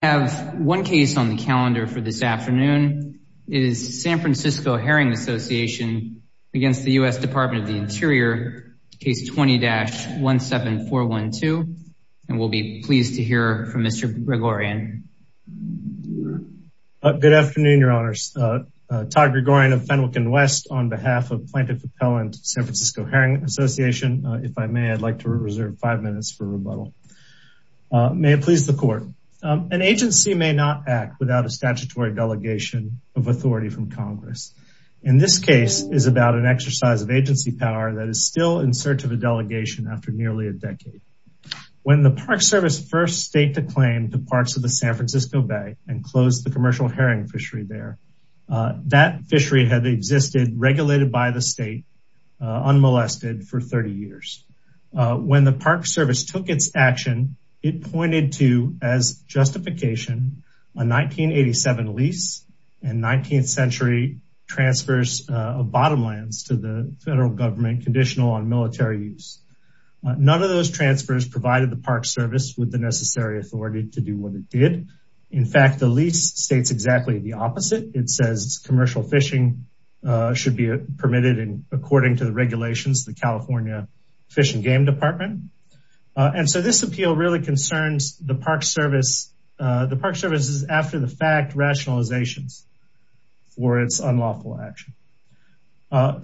I have one case on the calendar for this afternoon. It is San Francisco Herring Association against the U.S. Department of the Interior, case 20-17412. And we'll be pleased to hear from Mr. Gregorian. Good afternoon, Your Honors. Todd Gregorian of Fenwick & West on behalf of Planted Propellant San Francisco Herring Association. If I may, I'd like to reserve five minutes for rebuttal. May it please the court. An agency may not act without a statutory delegation of authority from Congress. In this case is about an exercise of agency power that is still in search of a delegation after nearly a decade. When the Park Service first state to claim the parts of the San Francisco Bay and close the commercial herring fishery there, that fishery had existed regulated by the state unmolested for 30 years. When the Park Service took its action, it pointed to, as justification, a 1987 lease and 19th century transfers of bottomlands to the federal government conditional on military use. None of those transfers provided the Park Service with the necessary authority to do what it did. In fact, the lease states exactly the opposite. It says commercial fishing should be permitted in according to the regulations, the California Fish and Game Department. And so this appeal really concerns the Park Service. The Park Service is after the fact rationalizations for its unlawful action.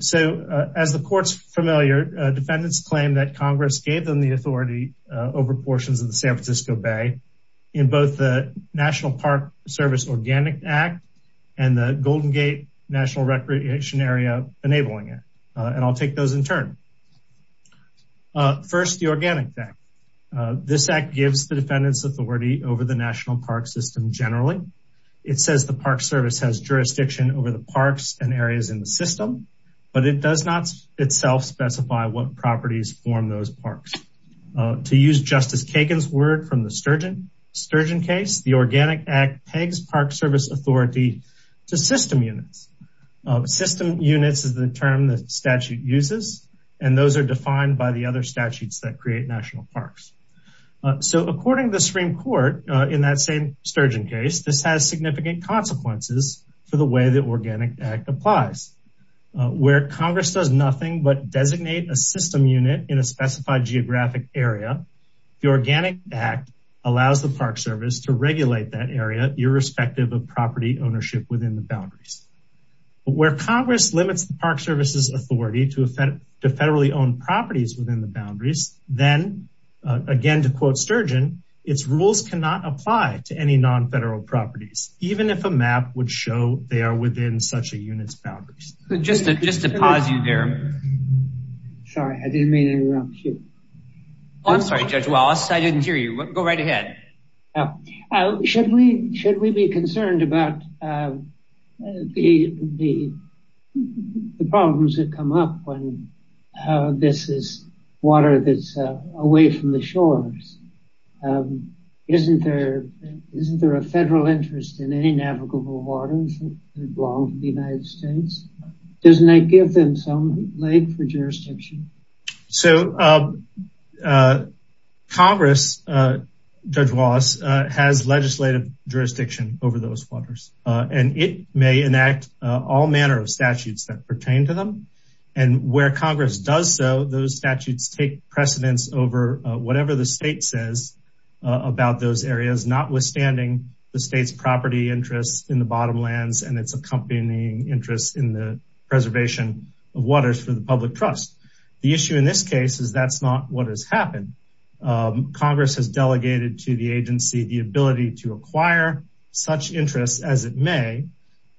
So as the courts familiar, defendants claim that Congress gave them the authority over portions of the San Francisco Bay in both the National Park Service Organic Act and the Golden Gate National Recreation Area, enabling it. And I'll take those in turn. First, the Organic Act. This act gives the defendants authority over the national park system generally. It says the Park Service has jurisdiction over the parks and areas in the system, but it does not itself specify what properties form those parks. To use Justice Kagan's word from the Sturgeon case, the Organic Act pegs Park Service authority to system units. System units is the term that statute uses, and those are defined by the other statutes that create national parks. So according to the Supreme Court in that same Sturgeon case, this has significant consequences for the way the Organic Act applies. Where Congress does nothing but designate a system unit in a specified geographic area, the Organic Act allows the Park Service to regulate that area, irrespective of property ownership within the boundaries. Where Congress limits the Park Service's authority to federally owned properties within the boundaries, then, again to quote Sturgeon, its rules cannot apply to any non-federal properties, even if a map would show they are within such a unit's boundaries. Just to pause you there. Sorry, I didn't mean to interrupt you. I'm sorry, Judge Wallace, I didn't hear you. Go right ahead. Should we be concerned about the problems that come up when this is water that's away from the shores? Isn't there a federal interest in any navigable waters that belong to the United States? Doesn't that give them some leg for jurisdiction? So Congress, Judge Wallace, has legislative jurisdiction over those waters, and it may enact all manner of statutes that pertain to them. And where Congress does so, those statutes take precedence over whatever the state says about those areas, notwithstanding the state's property interests in the bottomlands and its accompanying interests in the preservation of waters for the public trust. The issue in this case is that's not what has happened. Congress has delegated to the agency the ability to acquire such interests as it may,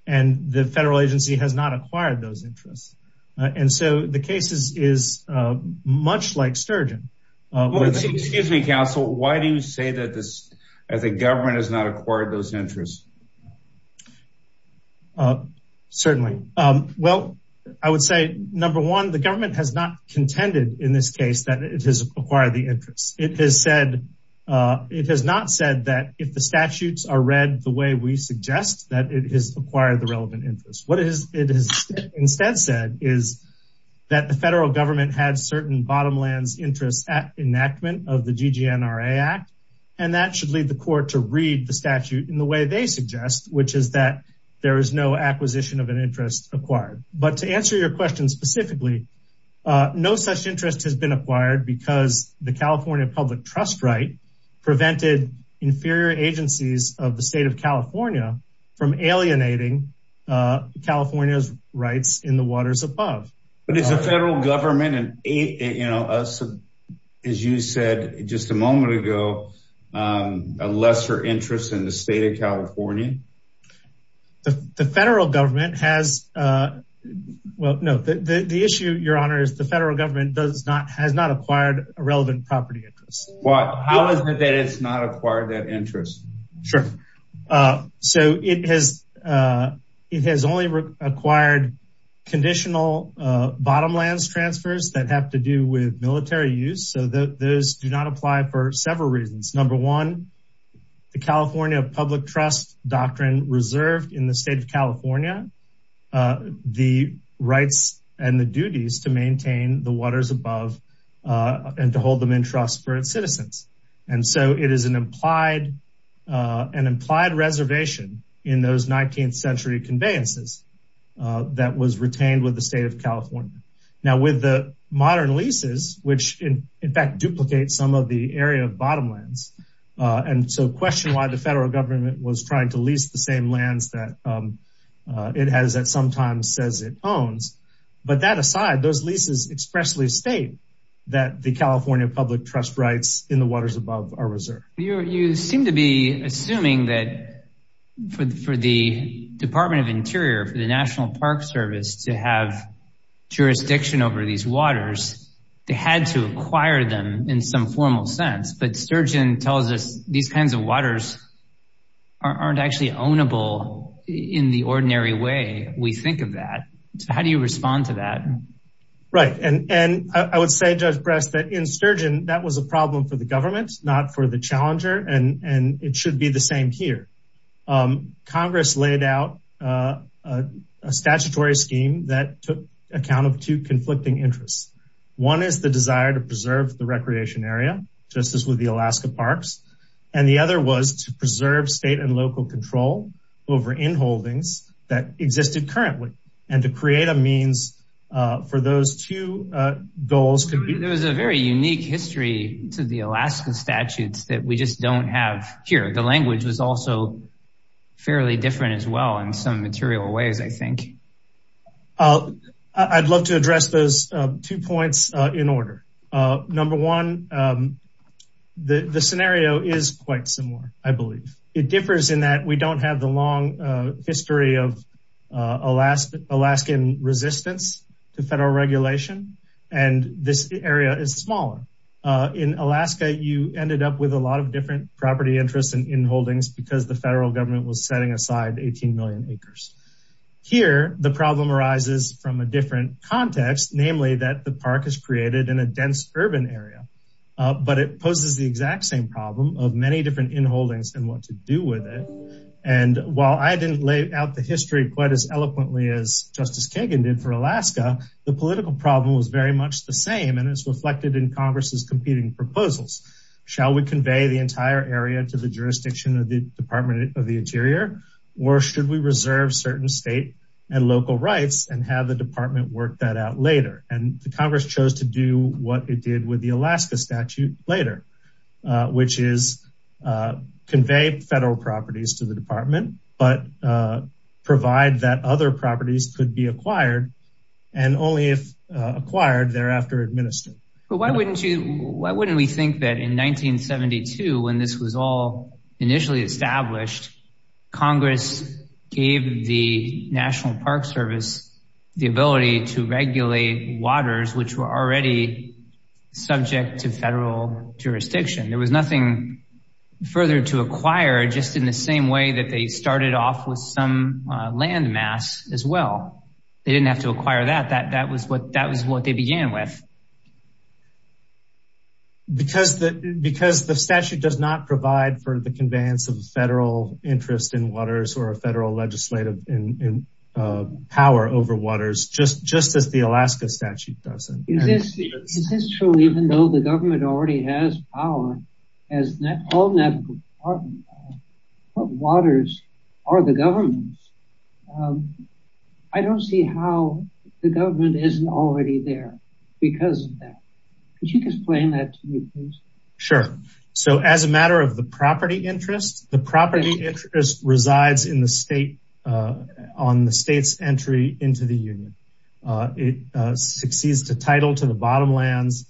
and the federal agency has not acquired those interests. And so the case is much like Sturgeon. Excuse me, counsel, why do you say that the government has not acquired those interests? Certainly. Well, I would say, number one, the government has not contended in this case that it has acquired the interest. It has said it has not said that if the statutes are read the way we suggest that it has acquired the relevant interest. What it has instead said is that the federal government had certain bottomlands interest enactment of the GGNRA Act, and that should lead the court to read the statute in the way they suggest, which is that there is no acquisition of an interest acquired. But to answer your question specifically, no such interest has been acquired because the California public trust right prevented inferior agencies of the state of California from alienating California's rights in the waters above. But it's a federal government. And, you know, as you said just a moment ago, a lesser interest in the state of California. The federal government has. Well, no, the issue, Your Honor, is the federal government does not has not acquired a relevant property interest. But how is it that it's not acquired that interest? Sure. So it has it has only acquired conditional bottomlands transfers that have to do with military use. So those do not apply for several reasons. Number one, the California public trust doctrine reserved in the state of California the rights and the duties to maintain the waters above and to hold them in trust for its citizens. And so it is an implied an implied reservation in those 19th century conveyances that was retained with the state of California. Now, with the modern leases, which, in fact, duplicate some of the area of bottomlands. And so question why the federal government was trying to lease the same lands that it has that sometimes says it owns. But that aside, those leases expressly state that the California public trust rights in the waters above are reserved. You seem to be assuming that for the Department of Interior, for the National Park Service to have jurisdiction over these waters, they had to acquire them in some formal sense. But Sturgeon tells us these kinds of waters aren't actually ownable in the ordinary way we think of that. How do you respond to that? Right. And I would say, Judge Breast, that in Sturgeon, that was a problem for the government, not for the challenger. And it should be the same here. Congress laid out a statutory scheme that took account of two conflicting interests. One is the desire to preserve the recreation area, just as with the Alaska parks. And the other was to preserve state and local control over in holdings that existed currently and to create a means for those two goals. There was a very unique history to the Alaska statutes that we just don't have here. The language was also fairly different as well in some material ways, I think. I'd love to address those two points in order. Number one, the scenario is quite similar, I believe. It differs in that we don't have the long history of Alaskan resistance to federal regulation. And this area is smaller. In Alaska, you ended up with a lot of different property interests in holdings because the federal government was setting aside 18 million acres. Here, the problem arises from a different context, namely that the park is created in a dense urban area. But it poses the exact same problem of many different in holdings and what to do with it. And while I didn't lay out the history quite as eloquently as Justice Kagan did for Alaska, the political problem was very much the same. And it's reflected in Congress's competing proposals. Shall we convey the entire area to the jurisdiction of the Department of the Interior? Or should we reserve certain state and local rights and have the department work that out later? And the Congress chose to do what it did with the Alaska statute later, which is convey federal properties to the department, but provide that other properties could be acquired and only if acquired thereafter administered. But why wouldn't you, why wouldn't we think that in 1972, when this was all initially established, Congress gave the National Park Service the ability to regulate waters which were already subject to federal jurisdiction. There was nothing further to acquire just in the same way that they started off with some landmass as well. They didn't have to acquire that, that was what they began with. Because the statute does not provide for the conveyance of federal interest in waters or a federal legislative power over waters, just as the Alaska statute doesn't. Is this true even though the government already has power as the National Park Service, what waters are the government's? I don't see how the government isn't already there because of that. Could you explain that to me, please? Sure. So as a matter of the property interest, the property interest resides in the state on the state's entry into the union. It succeeds to title to the bottom lands.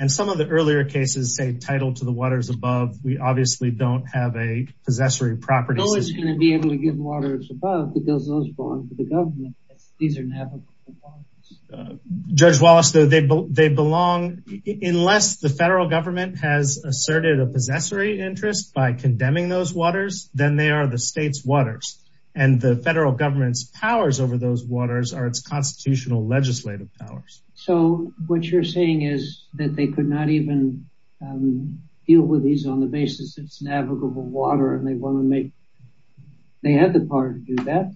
And some of the earlier cases say title to the waters above. We obviously don't have a possessory property. So it's going to be able to give waters above because those belong to the government. These are navigable waters. Judge Wallace, they belong, unless the federal government has asserted a possessory interest by condemning those waters, then they are the state's waters. And the federal government's powers over those waters are its constitutional legislative powers. So what you're saying is that they could not even deal with these on the basis it's navigable water and they had the power to do that?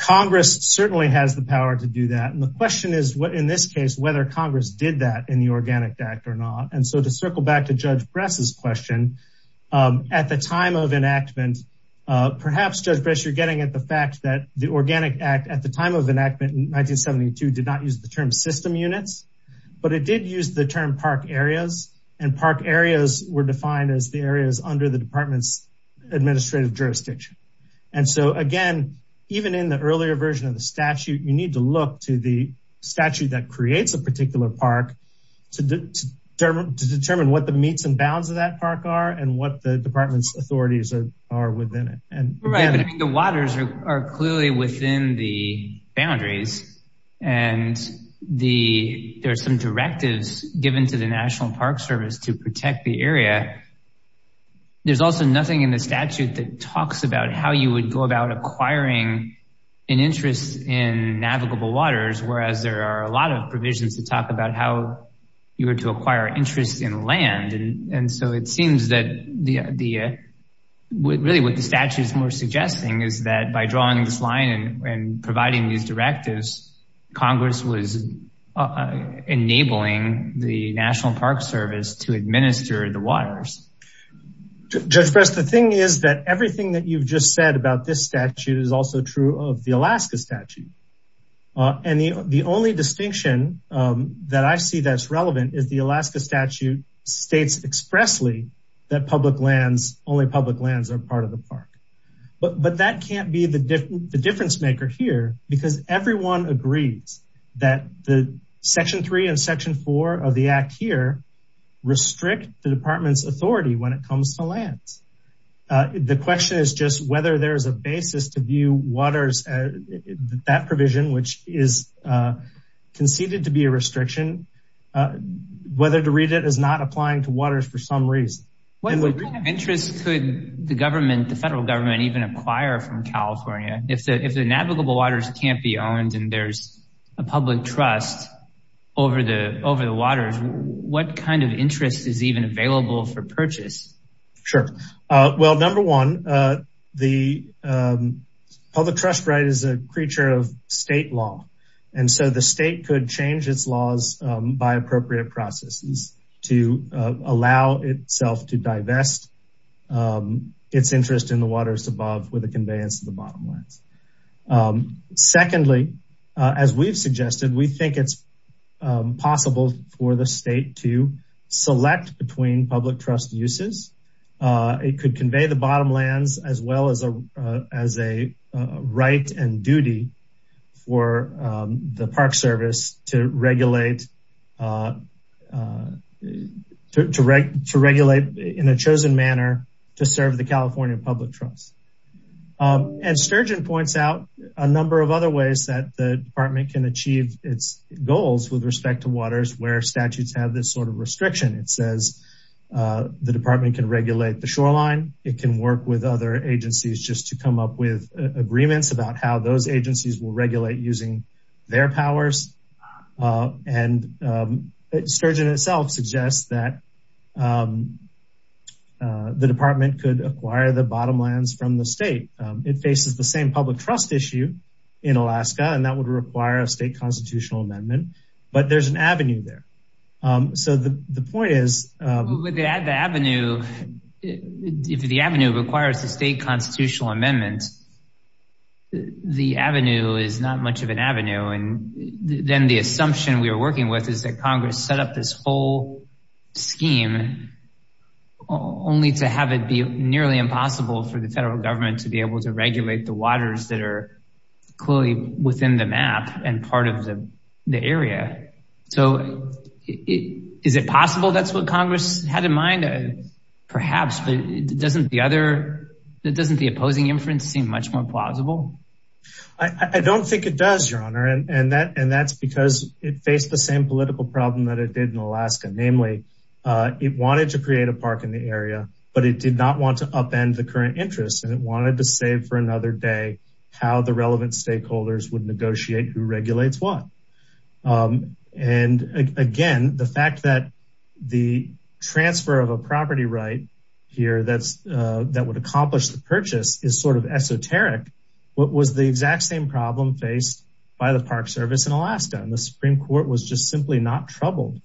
Congress certainly has the power to do that. And the question is, in this case, whether Congress did that in the Organic Act or not. And so to circle back to Judge Bress's question, at the time of enactment, perhaps, Judge Bress, you're getting at the fact that the Organic Act at the time of enactment in 1972 did not use the term system units, but it did use the term park areas. And park areas were defined as the areas under the department's administrative jurisdiction. And so, again, even in the earlier version of the statute, you need to look to the statute that creates a particular park to determine what the meets and bounds of that park are and what the department's authorities are within it. The waters are clearly within the boundaries. And there are some directives given to the National Park Service to protect the area. There's also nothing in the statute that talks about how you would go about acquiring an interest in navigable waters, whereas there are a lot of provisions to talk about how you were to acquire interest in land. And so it seems that really what the statute is more suggesting is that by drawing this line and providing these directives, Congress was enabling the National Park Service to administer the waters. Judge Bress, the thing is that everything that you've just said about this statute is also true of the Alaska statute. And the only distinction that I see that's relevant is the Alaska statute states expressly that public lands, only public lands are part of the park. But that can't be the difference maker here because everyone agrees that the Section 3 and Section 4 of the Act here restrict the department's authority when it comes to lands. The question is just whether there is a basis to view waters, that provision, which is conceded to be a restriction, whether to read it as not applying to waters for some reason. What kind of interest could the federal government even acquire from California? If the navigable waters can't be owned and there's a public trust over the waters, what kind of interest is even available for purchase? Sure. Well, number one, the public trust right is a creature of state law. And so the state could change its laws by appropriate processes to allow itself to divest its interest in the waters above with a conveyance of the bottom lines. Secondly, as we've suggested, we think it's possible for the state to select between public trust uses. It could convey the bottom lands as well as a right and duty for the Park Service to regulate in a chosen manner to serve the California public trust. And Sturgeon points out a number of other ways that the department can achieve its goals with respect to waters where statutes have this sort of restriction. It says the department can regulate the shoreline. It can work with other agencies just to come up with agreements about how those agencies will regulate using their powers. And Sturgeon itself suggests that the department could acquire the bottom lines from the state. It faces the same public trust issue in Alaska, and that would require a state constitutional amendment. But there's an avenue there. So the point is. If the avenue requires a state constitutional amendment, the avenue is not much of an avenue. And then the assumption we are working with is that Congress set up this whole scheme only to have it be nearly impossible for the federal government to be able to regulate the waters that are clearly within the map and part of the area. So is it possible? That's what Congress had in mind, perhaps. But doesn't the opposing inference seem much more plausible? I don't think it does, Your Honor. And that's because it faced the same political problem that it did in Alaska. Namely, it wanted to create a park in the area, but it did not want to upend the current interest. And it wanted to save for another day how the relevant stakeholders would negotiate who regulates what. And again, the fact that the transfer of a property right here that would accomplish the purchase is sort of esoteric. What was the exact same problem faced by the Park Service in Alaska? And the Supreme Court was just simply not troubled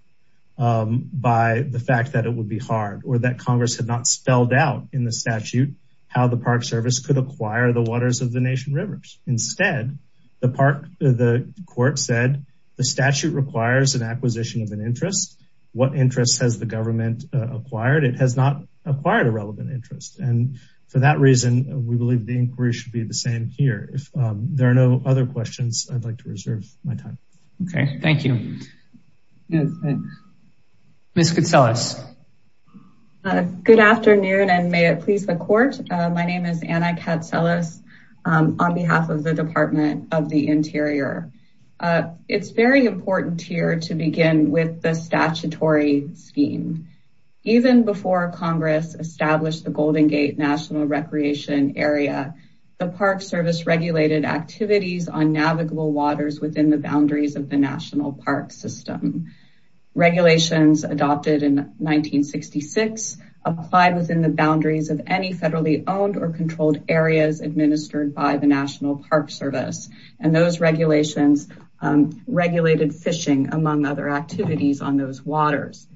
by the fact that it would be hard, or that Congress had not spelled out in the statute how the Park Service could acquire the waters of the Nation Rivers. Instead, the court said the statute requires an acquisition of an interest. What interest has the government acquired? It has not acquired a relevant interest. And for that reason, we believe the inquiry should be the same here. If there are no other questions, I'd like to reserve my time. Okay, thank you. Ms. Catsellas. Good afternoon, and may it please the Court. My name is Anna Catsellas on behalf of the Department of the Interior. It's very important here to begin with the statutory scheme. Even before Congress established the Golden Gate National Recreation Area, the Park Service regulated activities on navigable waters within the boundaries of the National Park System. Regulations adopted in 1966 applied within the boundaries of any federally owned or controlled areas administered by the National Park Service. And those regulations regulated fishing, among other activities on those waters.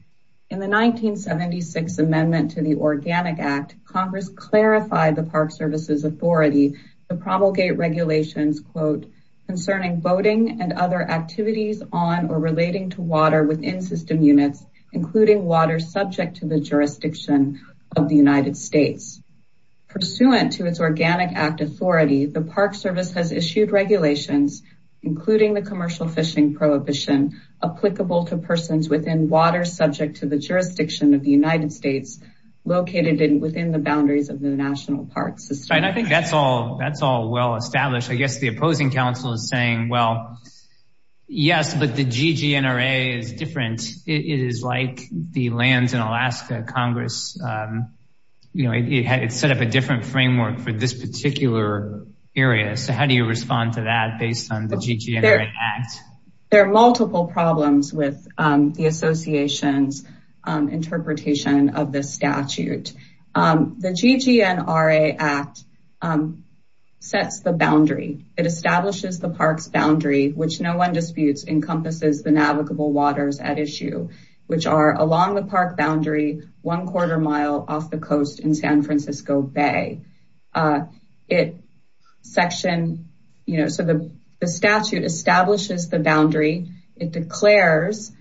In the 1976 amendment to the Organic Act, Congress clarified the Park Service's authority to promulgate regulations, concerning boating and other activities on or relating to water within system units, including water subject to the jurisdiction of the United States. Pursuant to its Organic Act authority, the Park Service has issued regulations, including the commercial fishing prohibition, applicable to persons within water subject to the jurisdiction of the United States, located within the boundaries of the National Park System. And I think that's all well established. I guess the opposing counsel is saying, well, yes, but the GGNRA is different. It is like the lands in Alaska Congress. You know, it set up a different framework for this particular area. So how do you respond to that based on the GGNRA Act? There are multiple problems with the association's interpretation of this statute. The GGNRA Act sets the boundary. It establishes the park's boundary, which no one disputes, encompasses the navigable waters at issue, which are along the park boundary, one quarter mile off the coast in San Francisco Bay. It section, you know, so the statute establishes the boundary. It declares,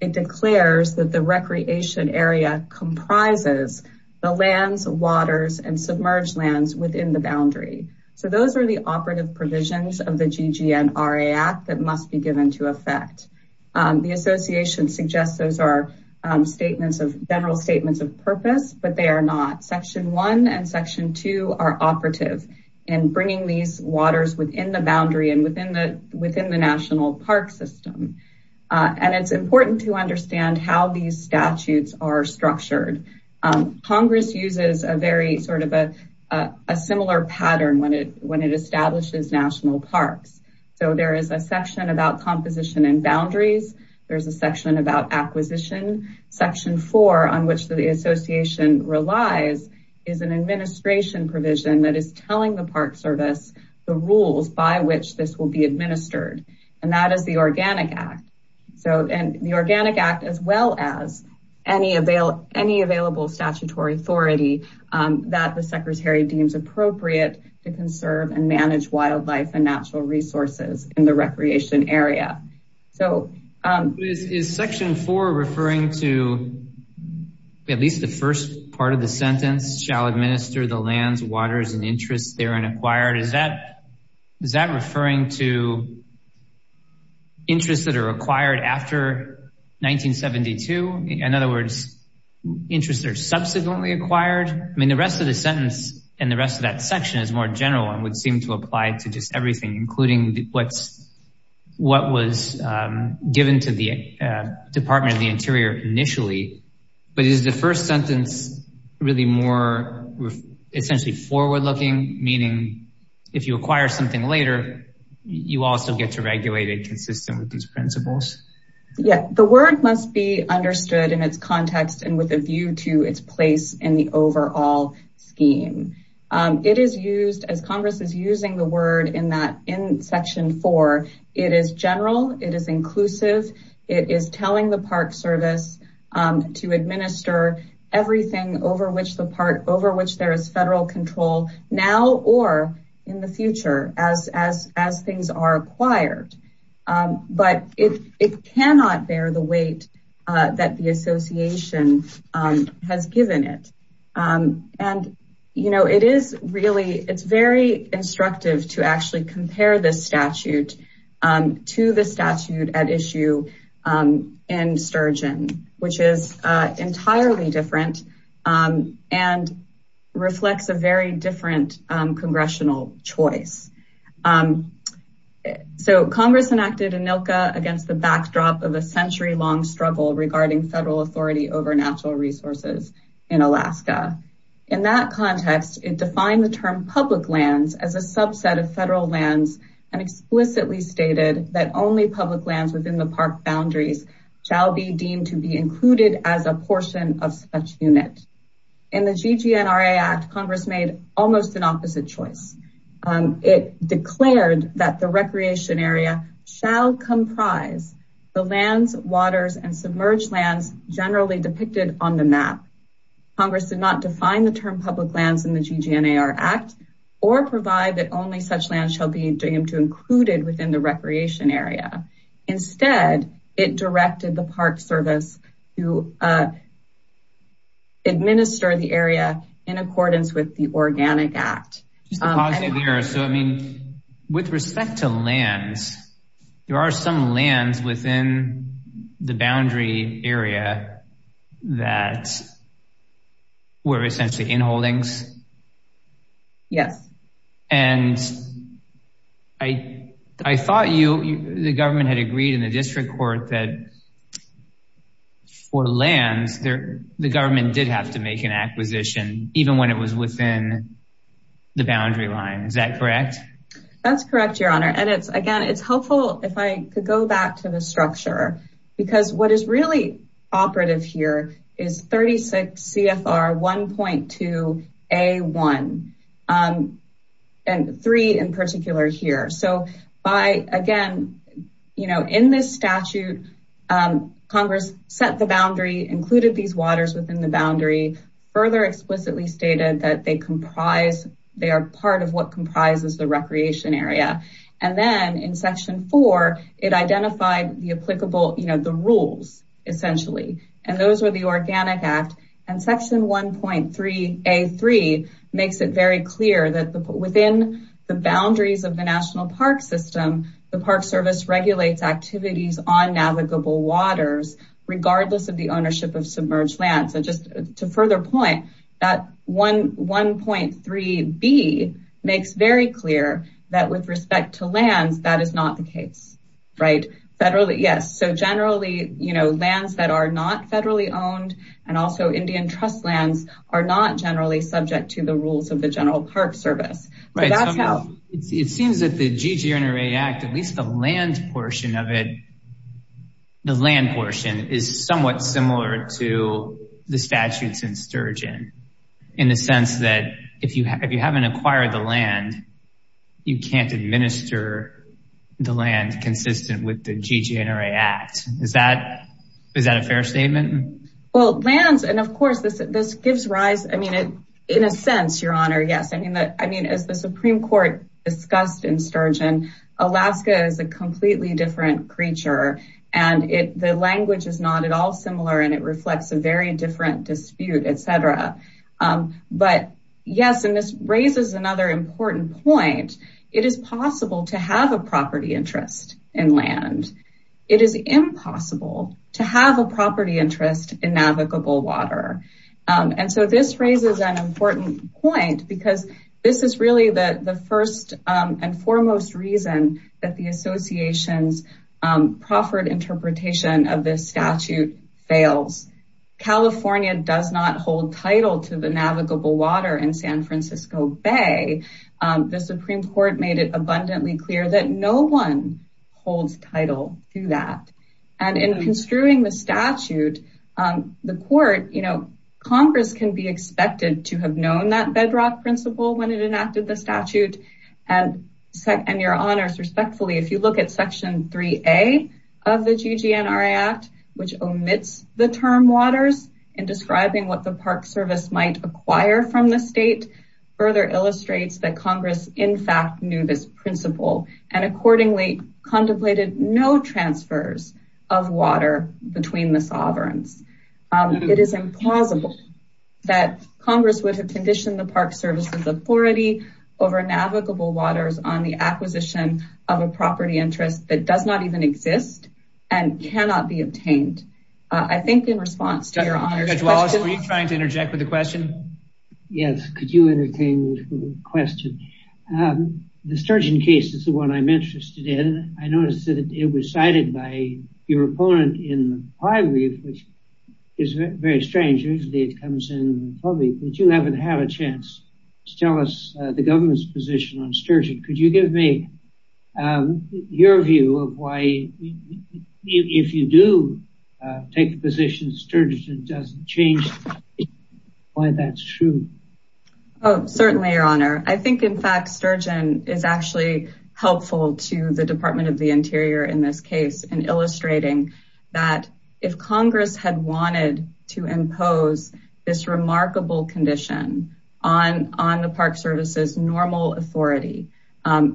it declares that the recreation area comprises the lands, waters and submerged lands within the boundary. So those are the operative provisions of the GGNRA Act that must be given to effect. The association suggests those are statements of general statements of purpose, but they are not. Section one and section two are operative in bringing these waters within the boundary and within the national park system. And it's important to understand how these statutes are structured. Congress uses a very sort of a similar pattern when it establishes national parks. So there is a section about composition and boundaries. There's a section about acquisition. Section four, on which the association relies, is an administration provision that is telling the park service the rules by which this will be administered. And that is the Organic Act. So the Organic Act, as well as any available statutory authority that the secretary deems appropriate to conserve and manage wildlife and natural resources in the recreation area. Is section four referring to at least the first part of the sentence, shall administer the lands, waters and interests therein acquired? Is that referring to interests that are acquired after 1972? In other words, interests that are subsequently acquired? I mean, the rest of the sentence and the rest of that section is more general and would seem to apply to just everything, including what was given to the Department of the Interior initially. But is the first sentence really more essentially forward-looking, meaning if you acquire something later, you also get to regulate it consistent with these principles? Yeah, the word must be understood in its context and with a view to its place in the overall scheme. It is used as Congress is using the word in that in section four. It is general. It is inclusive. It is telling the park service to administer everything over which the park, over which there is federal control now or in the future as things are acquired. But it cannot bear the weight that the association has given it. And, you know, it is really it's very instructive to actually compare this statute to the statute at issue in Sturgeon, which is entirely different and reflects a very different congressional choice. So Congress enacted ANILCA against the backdrop of a century long struggle regarding federal authority over natural resources in Alaska. In that context, it defined the term public lands as a subset of federal lands and explicitly stated that only public lands within the park boundaries shall be deemed to be included as a portion of such unit. In the GGNRA Act, Congress made almost an opposite choice. It declared that the recreation area shall comprise the lands, waters and submerged lands generally depicted on the map. Congress did not define the term public lands in the GGNRA Act or provide that only such land shall be deemed to included within the recreation area. Instead, it directed the park service to administer the area in accordance with the Organic Act. So I mean, with respect to lands, there are some lands within the boundary area that were essentially in holdings. Yes. And I thought you the government had agreed in the district court that for lands there, the government did have to make an acquisition, even when it was within the boundary line. Is that correct? That's correct, Your Honor. And it's again, it's helpful if I could go back to the structure, because what is really operative here is 36 CFR 1.2 A1 and three in particular here. So by again, you know, in this statute, Congress set the boundary, included these waters within the boundary, further explicitly stated that they comprise. They are part of what comprises the recreation area. And then in Section four, it identified the applicable, you know, the rules essentially. And those were the Organic Act. And Section 1.3 A3 makes it very clear that within the boundaries of the National Park System, the Park Service regulates activities on navigable waters, regardless of the ownership of submerged lands. And just to further point that 1.3 B makes very clear that with respect to lands, that is not the case. Right. So federally, yes. So generally, you know, lands that are not federally owned and also Indian Trust lands are not generally subject to the rules of the General Park Service. It seems that the GGNRA Act, at least the land portion of it, the land portion is somewhat similar to the statutes in Sturgeon in the sense that if you haven't acquired the land, you can't administer the land consistent with the GGNRA Act. Is that a fair statement? Well, lands, and of course, this gives rise, I mean, in a sense, Your Honor, yes. I mean, as the Supreme Court discussed in Sturgeon, Alaska is a completely different creature and the language is not at all similar and it reflects a very different dispute, etc. But yes, and this raises another important point. It is possible to have a property interest in land. It is impossible to have a property interest in navigable water. And so this raises an important point because this is really the first and foremost reason that the association's proffered interpretation of this statute fails. California does not hold title to the navigable water in San Francisco Bay. The Supreme Court made it abundantly clear that no one holds title to that. And in construing the statute, the court, you know, Congress can be expected to have known that bedrock principle when it enacted the statute. And Your Honors, respectfully, if you look at Section 3A of the GGNRA Act, which omits the term waters in describing what the Park Service might acquire from the state, further illustrates that Congress, in fact, knew this principle and accordingly contemplated no transfers of water between the sovereigns. It is implausible that Congress would have conditioned the Park Service's authority over navigable waters on the acquisition of a property interest that does not even exist and cannot be obtained. I think in response to Your Honors... Judge Wallace, were you trying to interject with the question? Yes, could you entertain the question? The sturgeon case is the one I'm interested in. I noticed that it was cited by your opponent in the High Brief, which is very strange. Usually it comes in public, but you haven't had a chance to tell us the government's position on sturgeon. Could you give me your view of why, if you do take the position sturgeon doesn't change, why that's true? Oh, certainly, Your Honor. I think, in fact, sturgeon is actually helpful to the Department of the Interior in this case in illustrating that if Congress had wanted to impose this remarkable condition on the Park Service's normal authority,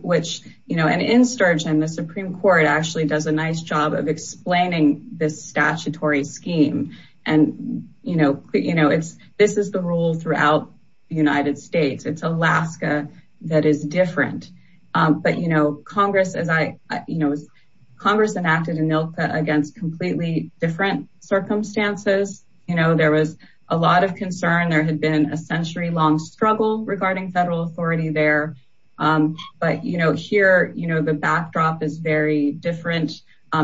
which, you know, and in sturgeon, the Supreme Court actually does a nice job of explaining this statutory scheme. And, you know, this is the rule throughout the United States. It's Alaska that is different. But, you know, Congress enacted ANILCA against completely different circumstances. You know, there was a lot of concern. There had been a century-long struggle regarding federal authority there. But, you know, here, you know, the backdrop is very different.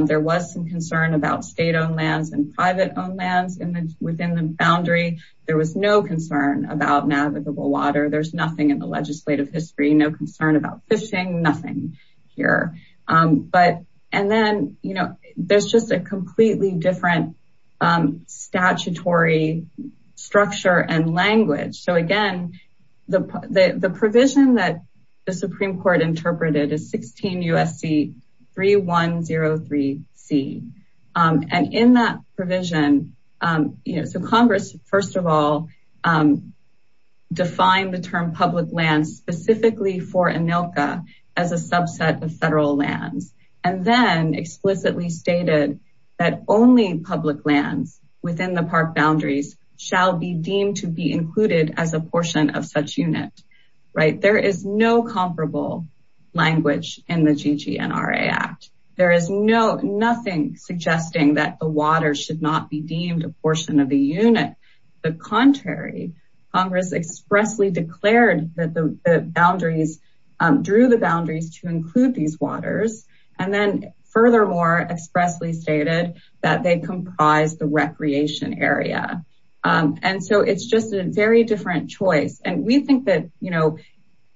There was some concern about state-owned lands and private-owned lands within the boundary. There was no concern about navigable water. There's nothing in the legislative history, no concern about fishing, nothing here. And then, you know, there's just a completely different statutory structure and language. So, again, the provision that the Supreme Court interpreted is 16 U.S.C. 3103C. And in that provision, you know, so Congress, first of all, defined the term public lands specifically for ANILCA as a subset of federal lands. And then explicitly stated that only public lands within the park boundaries shall be deemed to be included as a portion of such unit. Right? There is no comparable language in the GGNRA Act. There is no, nothing suggesting that the water should not be deemed a portion of the unit. The contrary, Congress expressly declared that the boundaries, drew the boundaries to include these waters. And then, furthermore, expressly stated that they comprise the recreation area. And so it's just a very different choice. And we think that, you know,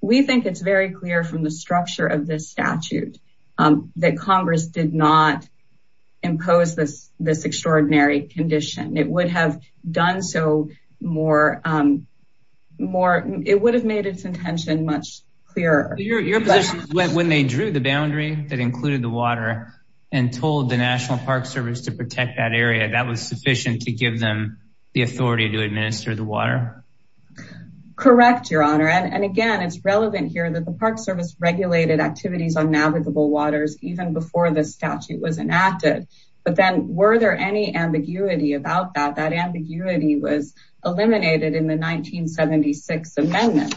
we think it's very clear from the structure of this statute that Congress did not impose this extraordinary condition. It would have done so more, it would have made its intention much clearer. When they drew the boundary that included the water and told the National Park Service to protect that area, that was sufficient to give them the authority to administer the water? Correct, Your Honor. And again, it's relevant here that the Park Service regulated activities on navigable waters, even before the statute was enacted. But then, were there any ambiguity about that? That ambiguity was eliminated in the 1976 Amendment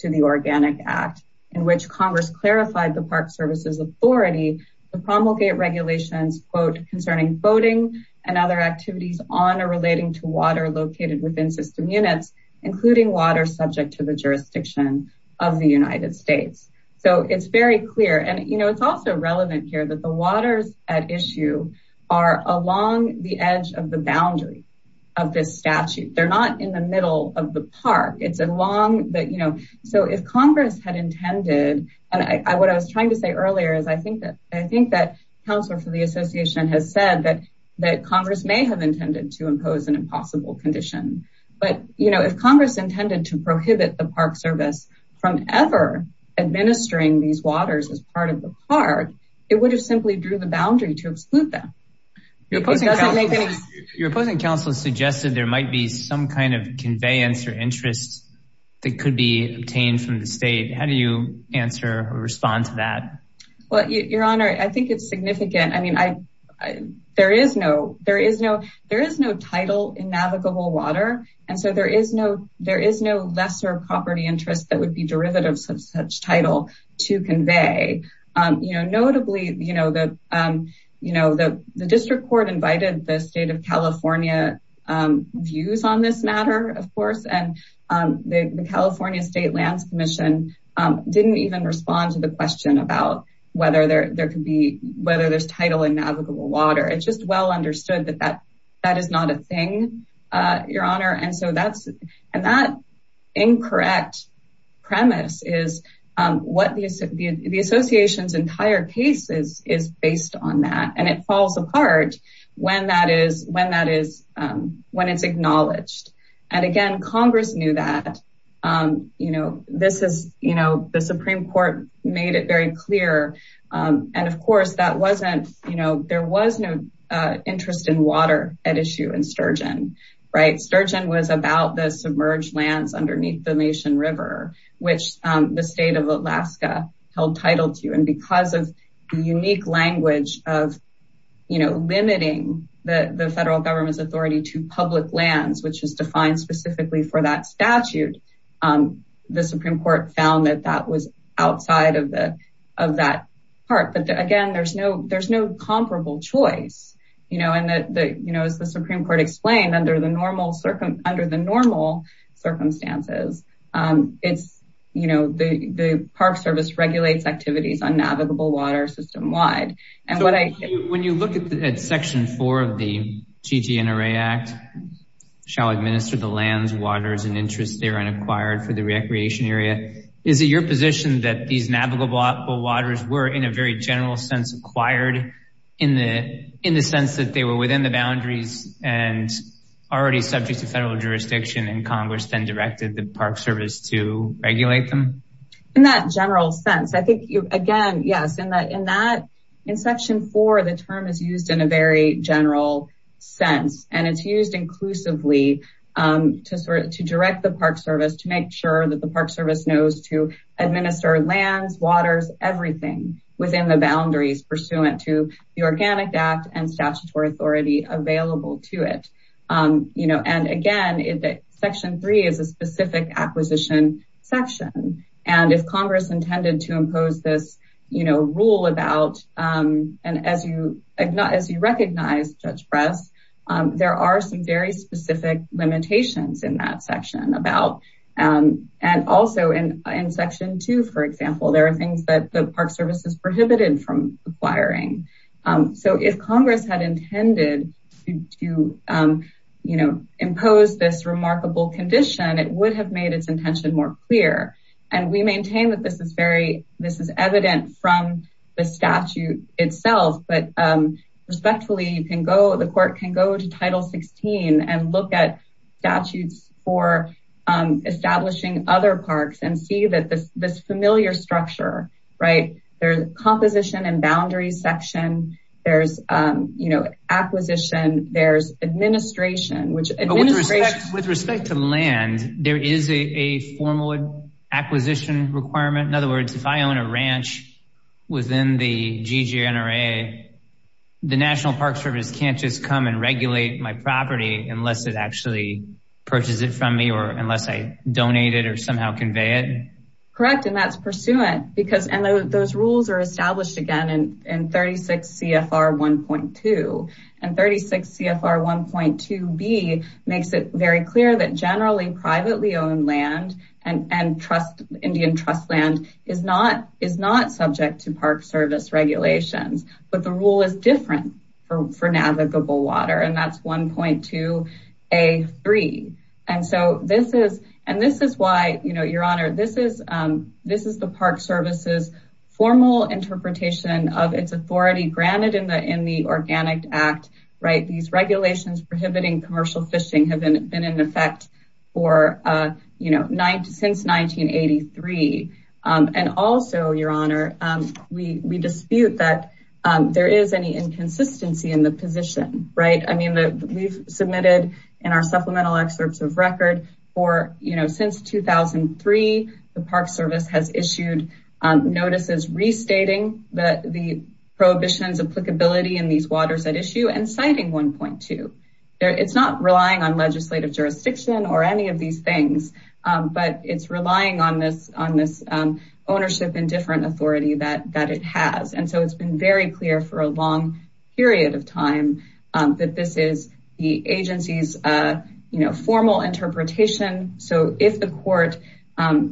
to the Organic Act, in which Congress clarified the Park Service's authority to promulgate regulations, quote, concerning boating and other activities on or relating to water located within system units, including water subject to the jurisdiction of the United States. So it's very clear. And, you know, it's also relevant here that the waters at issue are along the edge of the boundary of this statute. They're not in the middle of the park. It's along that, you know. So if Congress had intended, and what I was trying to say earlier is I think that I think that Counselor for the Association has said that that Congress may have intended to impose an impossible condition. But, you know, if Congress intended to prohibit the Park Service from ever administering these waters as part of the park, it would have simply drew the boundary to exclude them. Your opposing counsel suggested there might be some kind of conveyance or interest that could be obtained from the state. How do you answer or respond to that? Well, Your Honor, I think it's significant. I mean, I there is no there is no there is no title in navigable water. And so there is no there is no lesser property interest that would be derivatives of such title to convey. You know, notably, you know, that, you know, the district court invited the state of California views on this matter, of course. And the California State Lands Commission didn't even respond to the question about whether there could be whether there's title in navigable water. It's just well understood that that that is not a thing, Your Honor. And so that's and that incorrect premise is what the association's entire case is, is based on that. And it falls apart when that is when that is when it's acknowledged. And again, Congress knew that, you know, this is, you know, the Supreme Court made it very clear. And of course, that wasn't you know, there was no interest in water at issue in Sturgeon. Right. Sturgeon was about the submerged lands underneath the nation river, which the state of Alaska held title to. And because of the unique language of, you know, limiting the federal government's authority to public lands, which is defined specifically for that statute. The Supreme Court found that that was outside of the of that part. But again, there's no there's no comparable choice. You know, and that, you know, as the Supreme Court explained under the normal under the normal circumstances, it's, you know, the Park Service regulates activities on navigable water system wide. When you look at Section 4 of the GTNRA Act, shall administer the lands, waters and interests there and acquired for the recreation area. Is it your position that these navigable waters were in a very general sense acquired in the in the sense that they were within the boundaries and already subject to federal jurisdiction and Congress then directed the Park Service to regulate them? In that general sense, I think, again, yes, in that in that in Section 4, the term is used in a very general sense. And it's used inclusively to sort of to direct the Park Service to make sure that the Park Service knows to administer lands, waters, everything within the boundaries pursuant to the Organic Act and statutory authority available to it. You know, and again, Section 3 is a specific acquisition section. And if Congress intended to impose this, you know, rule about and as you as you recognize, Judge Press, there are some very specific limitations in that section about. And also in Section 2, for example, there are things that the Park Service is prohibited from acquiring. So if Congress had intended to, you know, impose this remarkable condition, it would have made its intention more clear. And we maintain that this is very this is evident from the statute itself. But respectfully, you can go the court can go to Title 16 and look at statutes for establishing other parks and see that this familiar structure. Right. There's composition and boundaries section. There's, you know, acquisition. There's administration, which with respect to land, there is a formal acquisition requirement. In other words, if I own a ranch within the GGNRA, the National Park Service can't just come and regulate my property unless it actually purchases it from me or unless I donate it or somehow convey it. Correct. And that's pursuant because those rules are established again in 36 CFR 1.2 and 36 CFR 1.2B makes it very clear that generally privately owned land and trust Indian trust land is not is not subject to Park Service regulations. But the rule is different for navigable water. And that's 1.2A3. And so this is and this is why, you know, Your Honor, this is this is the Park Service's formal interpretation of its authority granted in the in the Organic Act. Right. These regulations prohibiting commercial fishing have been in effect for, you know, since 1983. And also, Your Honor, we dispute that there is any inconsistency in the position. Right. I mean, we've submitted in our supplemental excerpts of record for, you know, since 2003, the Park Service has issued notices restating that the prohibitions applicability in these waters at issue and citing 1.2. It's not relying on legislative jurisdiction or any of these things, but it's relying on this on this ownership and different authority that that it has. And so it's been very clear for a long period of time that this is the agency's, you know, formal interpretation. So if the court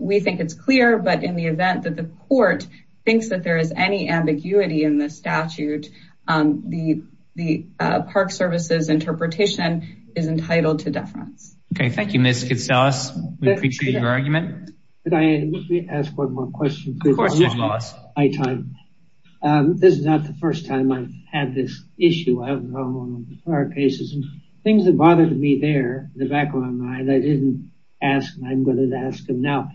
we think it's clear, but in the event that the court thinks that there is any ambiguity in the statute, the the Park Service's interpretation is entitled to deference. Okay, thank you, Ms. Katsalas. We appreciate your argument. Could I ask one more question? Of course, Judge Wallace. This is not the first time I've had this issue, I don't know, in prior cases. Things that bothered me there, in the back of my mind, I didn't ask and I'm going to ask them now.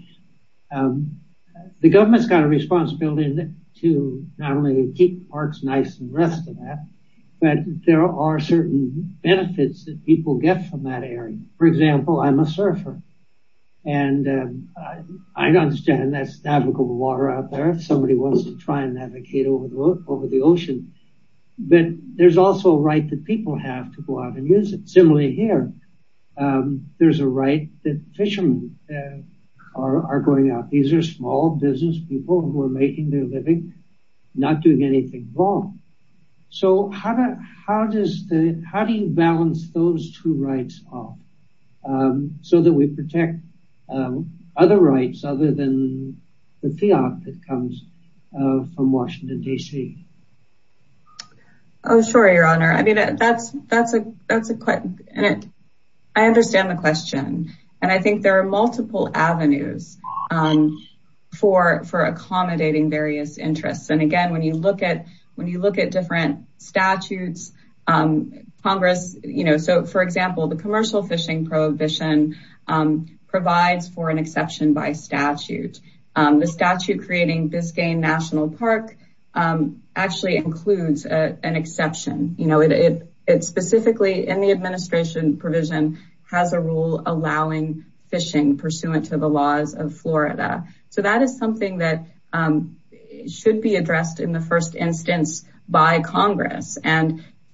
The government's got a responsibility to not only keep parks nice and rest of that, but there are certain benefits that people get from that area. For example, I'm a surfer and I understand that's navigable water out there. If somebody wants to try and navigate over the ocean, but there's also a right that people have to go out and use it. Similarly here, there's a right that fishermen are going out. These are small business people who are making their living not doing anything wrong. So how do you balance those two rights off so that we protect other rights other than the fiat that comes from Washington, D.C.? Sure, Your Honor. I understand the question. I think there are multiple avenues for accommodating various interests. Again, when you look at different statutes, Congress, for example, the commercial fishing prohibition provides for an exception by statute. The statute creating Biscayne National Park actually includes an exception. It specifically in the administration provision has a rule allowing fishing pursuant to the laws of Florida. So that is something that should be addressed in the first instance by Congress.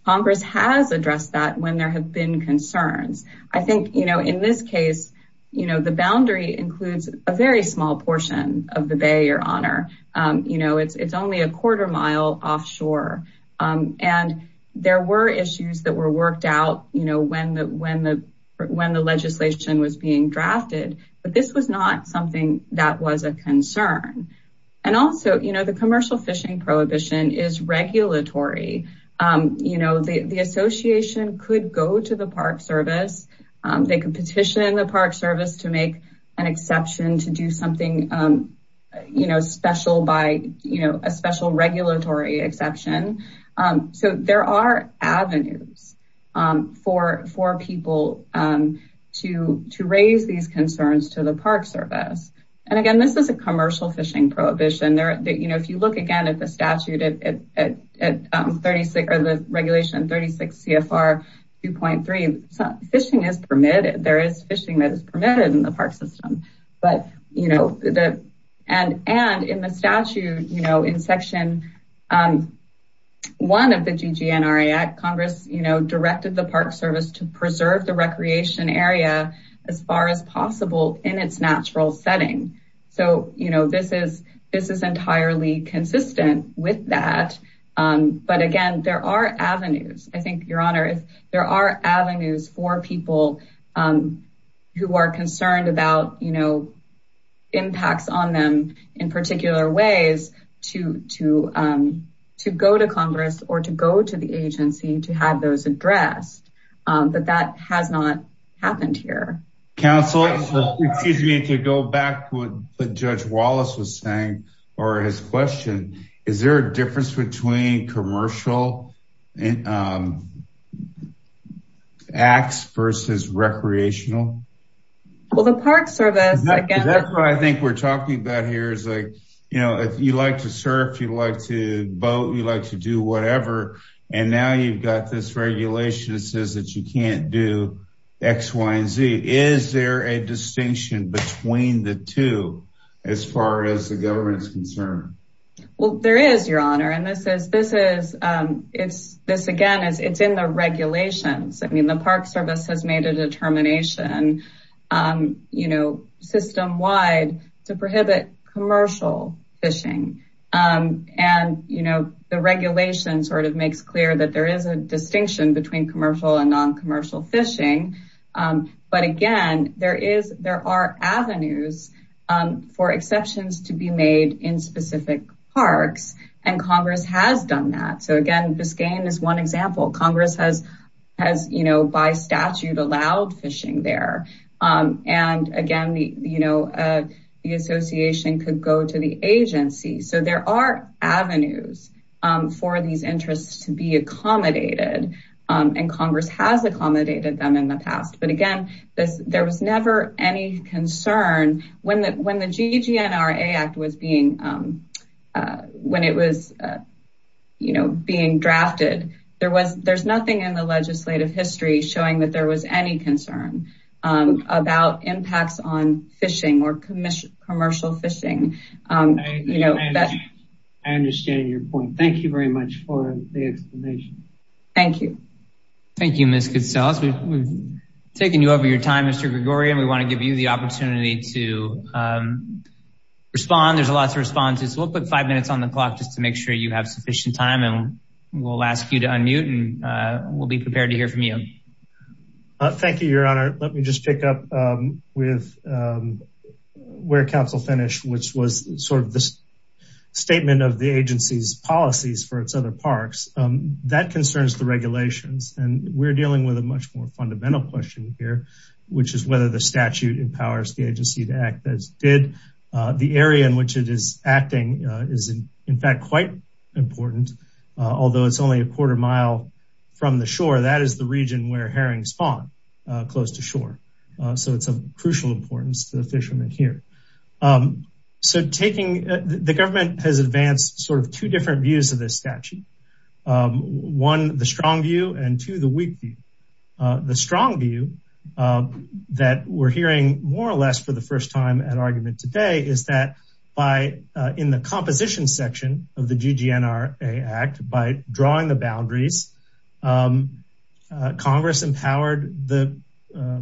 Congress has addressed that when there have been concerns. I think in this case, the boundary includes a very small portion of the Bay, Your Honor. It's only a quarter mile offshore. There were issues that were worked out when the legislation was being drafted, but this was not something that was a concern. Also, the commercial fishing prohibition is regulatory. The association could go to the Park Service. They could petition the Park Service to make an exception to do something special by a special regulatory exception. So there are avenues for people to raise these concerns to the Park Service. Again, this is a commercial fishing prohibition. If you look again at the regulation 36 CFR 2.3, fishing is permitted. There is fishing that is permitted in the park system. And in the statute in Section 1 of the GGNRA Act, Congress directed the Park Service to preserve the recreation area as far as possible in its natural setting. So this is entirely consistent with that. But again, there are avenues. I think, Your Honor, there are avenues for people who are concerned about impacts on them in particular ways to go to Congress or to go to the agency to have those addressed. But that has not happened here. Counsel, excuse me to go back to what Judge Wallace was saying or his question. Is there a difference between commercial acts versus recreational? Well, the Park Service. That's what I think we're talking about here. You know, if you like to surf, you like to boat, you like to do whatever. And now you've got this regulation that says that you can't do X, Y, and Z. Is there a distinction between the two as far as the government is concerned? This, again, it's in the regulations. I mean, the Park Service has made a determination system-wide to prohibit commercial fishing. And the regulation sort of makes clear that there is a distinction between commercial and non-commercial fishing. But, again, there are avenues for exceptions to be made in specific parks. And Congress has done that. So, again, Biscayne is one example. Congress has, by statute, allowed fishing there. And, again, the association could go to the agency. So there are avenues for these interests to be accommodated. And Congress has accommodated them in the past. But, again, there was never any concern. When the GGNRA Act was being drafted, there's nothing in the legislative history showing that there was any concern about impacts on fishing or commercial fishing. I understand your point. Thank you very much for the explanation. Thank you. Thank you, Ms. Goodsell. We've taken you over your time, Mr. Gregorian. We want to give you the opportunity to respond. There's lots of responses. We'll put five minutes on the clock just to make sure you have sufficient time. And we'll ask you to unmute, and we'll be prepared to hear from you. Thank you, Your Honor. Let me just pick up with where counsel finished, which was sort of the statement of the agency's policies for its other parks. That concerns the regulations. And we're dealing with a much more fundamental question here, which is whether the statute empowers the agency to act as it did. The area in which it is acting is, in fact, quite important. Although it's only a quarter mile from the shore, that is the region where herrings spawn close to shore. So it's of crucial importance to the fishermen here. So the government has advanced sort of two different views of this statute. One, the strong view, and two, the weak view. The strong view that we're hearing more or less for the first time at argument today is that in the composition section of the GGNRA Act, by drawing the boundaries, Congress empowered the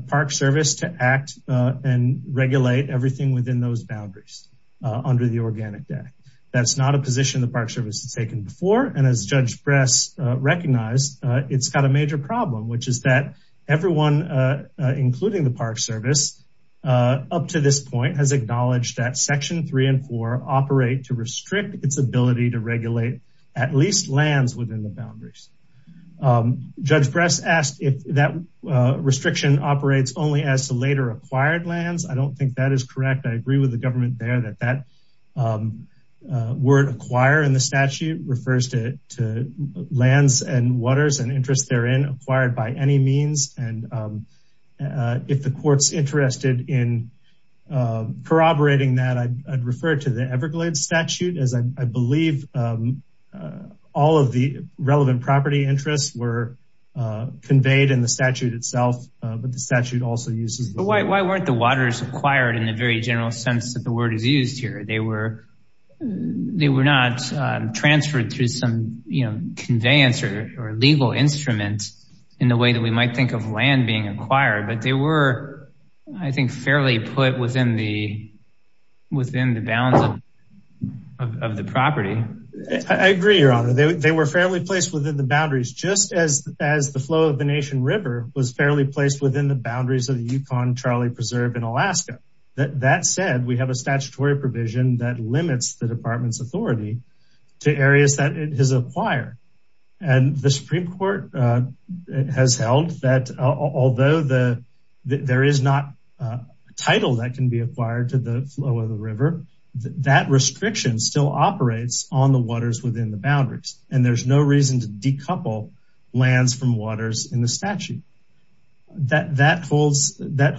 Park Service to act and regulate everything within those boundaries under the Organic Act. That's not a position the Park Service has taken before. And as Judge Bress recognized, it's got a major problem, which is that everyone, including the Park Service, up to this point has acknowledged that Section 3 and 4 operate to restrict its ability to regulate at least lands within the boundaries. Judge Bress asked if that restriction operates only as to later acquired lands. I don't think that is correct. I agree with the government there that that word acquire in the statute refers to lands and waters and interest therein acquired by any means. And if the court's interested in corroborating that, I'd refer to the Everglades statute, as I believe all of the relevant property interests were conveyed in the statute itself. But the statute also uses... Why weren't the waters acquired in the very general sense that the word is used here? They were not transferred through some conveyance or legal instruments in the way that we might think of land being acquired. But they were, I think, fairly put within the bounds of the property. I agree, Your Honor. They were fairly placed within the boundaries, just as the flow of the Nation River was fairly placed within the boundaries of the Yukon Charlie Preserve in Alaska. That said, we have a statutory provision that limits the department's authority to areas that it has acquired. And the Supreme Court has held that although there is not a title that can be acquired to the flow of the river, that restriction still operates on the waters within the boundaries. And there's no reason to decouple lands from waters in the statute. That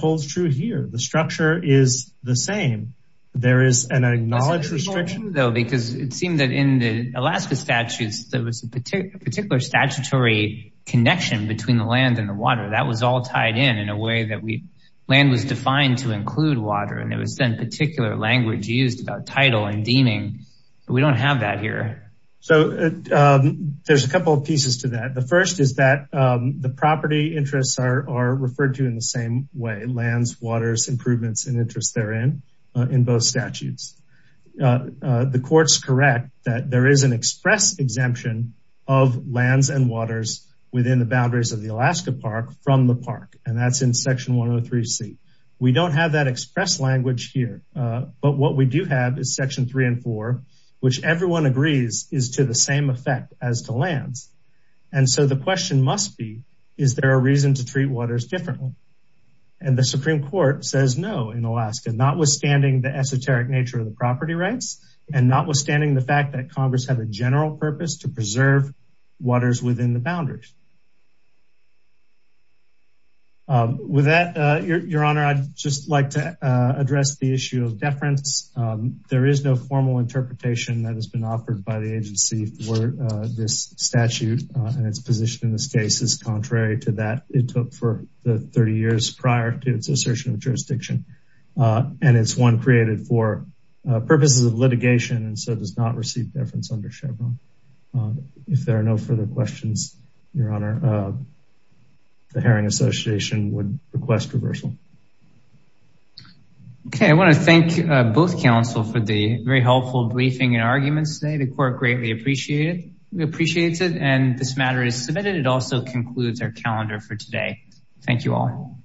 holds true here. The structure is the same. There is an acknowledged restriction. It's hold true, though, because it seemed that in the Alaska statutes, there was a particular statutory connection between the land and the water. That was all tied in in a way that land was defined to include water. And there was then particular language used about title and deeming, but we don't have that here. So there's a couple of pieces to that. The first is that the property interests are referred to in the same way, lands, waters, improvements, and interests therein in both statutes. The courts correct that there is an express exemption of lands and waters within the boundaries of the Alaska Park from the park. And that's in Section 103C. We don't have that express language here. But what we do have is Section 3 and 4, which everyone agrees is to the same effect as to lands. And so the question must be, is there a reason to treat waters differently? And the Supreme Court says no in Alaska, notwithstanding the esoteric nature of the property rights and notwithstanding the fact that Congress had a general purpose to preserve waters within the boundaries. With that, Your Honor, I'd just like to address the issue of deference. There is no formal interpretation that has been offered by the agency for this statute. And its position in this case is contrary to that it took for the 30 years prior to its assertion of jurisdiction. And it's one created for purposes of litigation and so does not receive deference under Chevron. If there are no further questions, Your Honor, the Herring Association would request reversal. Okay, I want to thank both counsel for the very helpful briefing and arguments today. The court greatly appreciate it. We appreciate it. And this matter is submitted. It also concludes our calendar for today. Thank you all.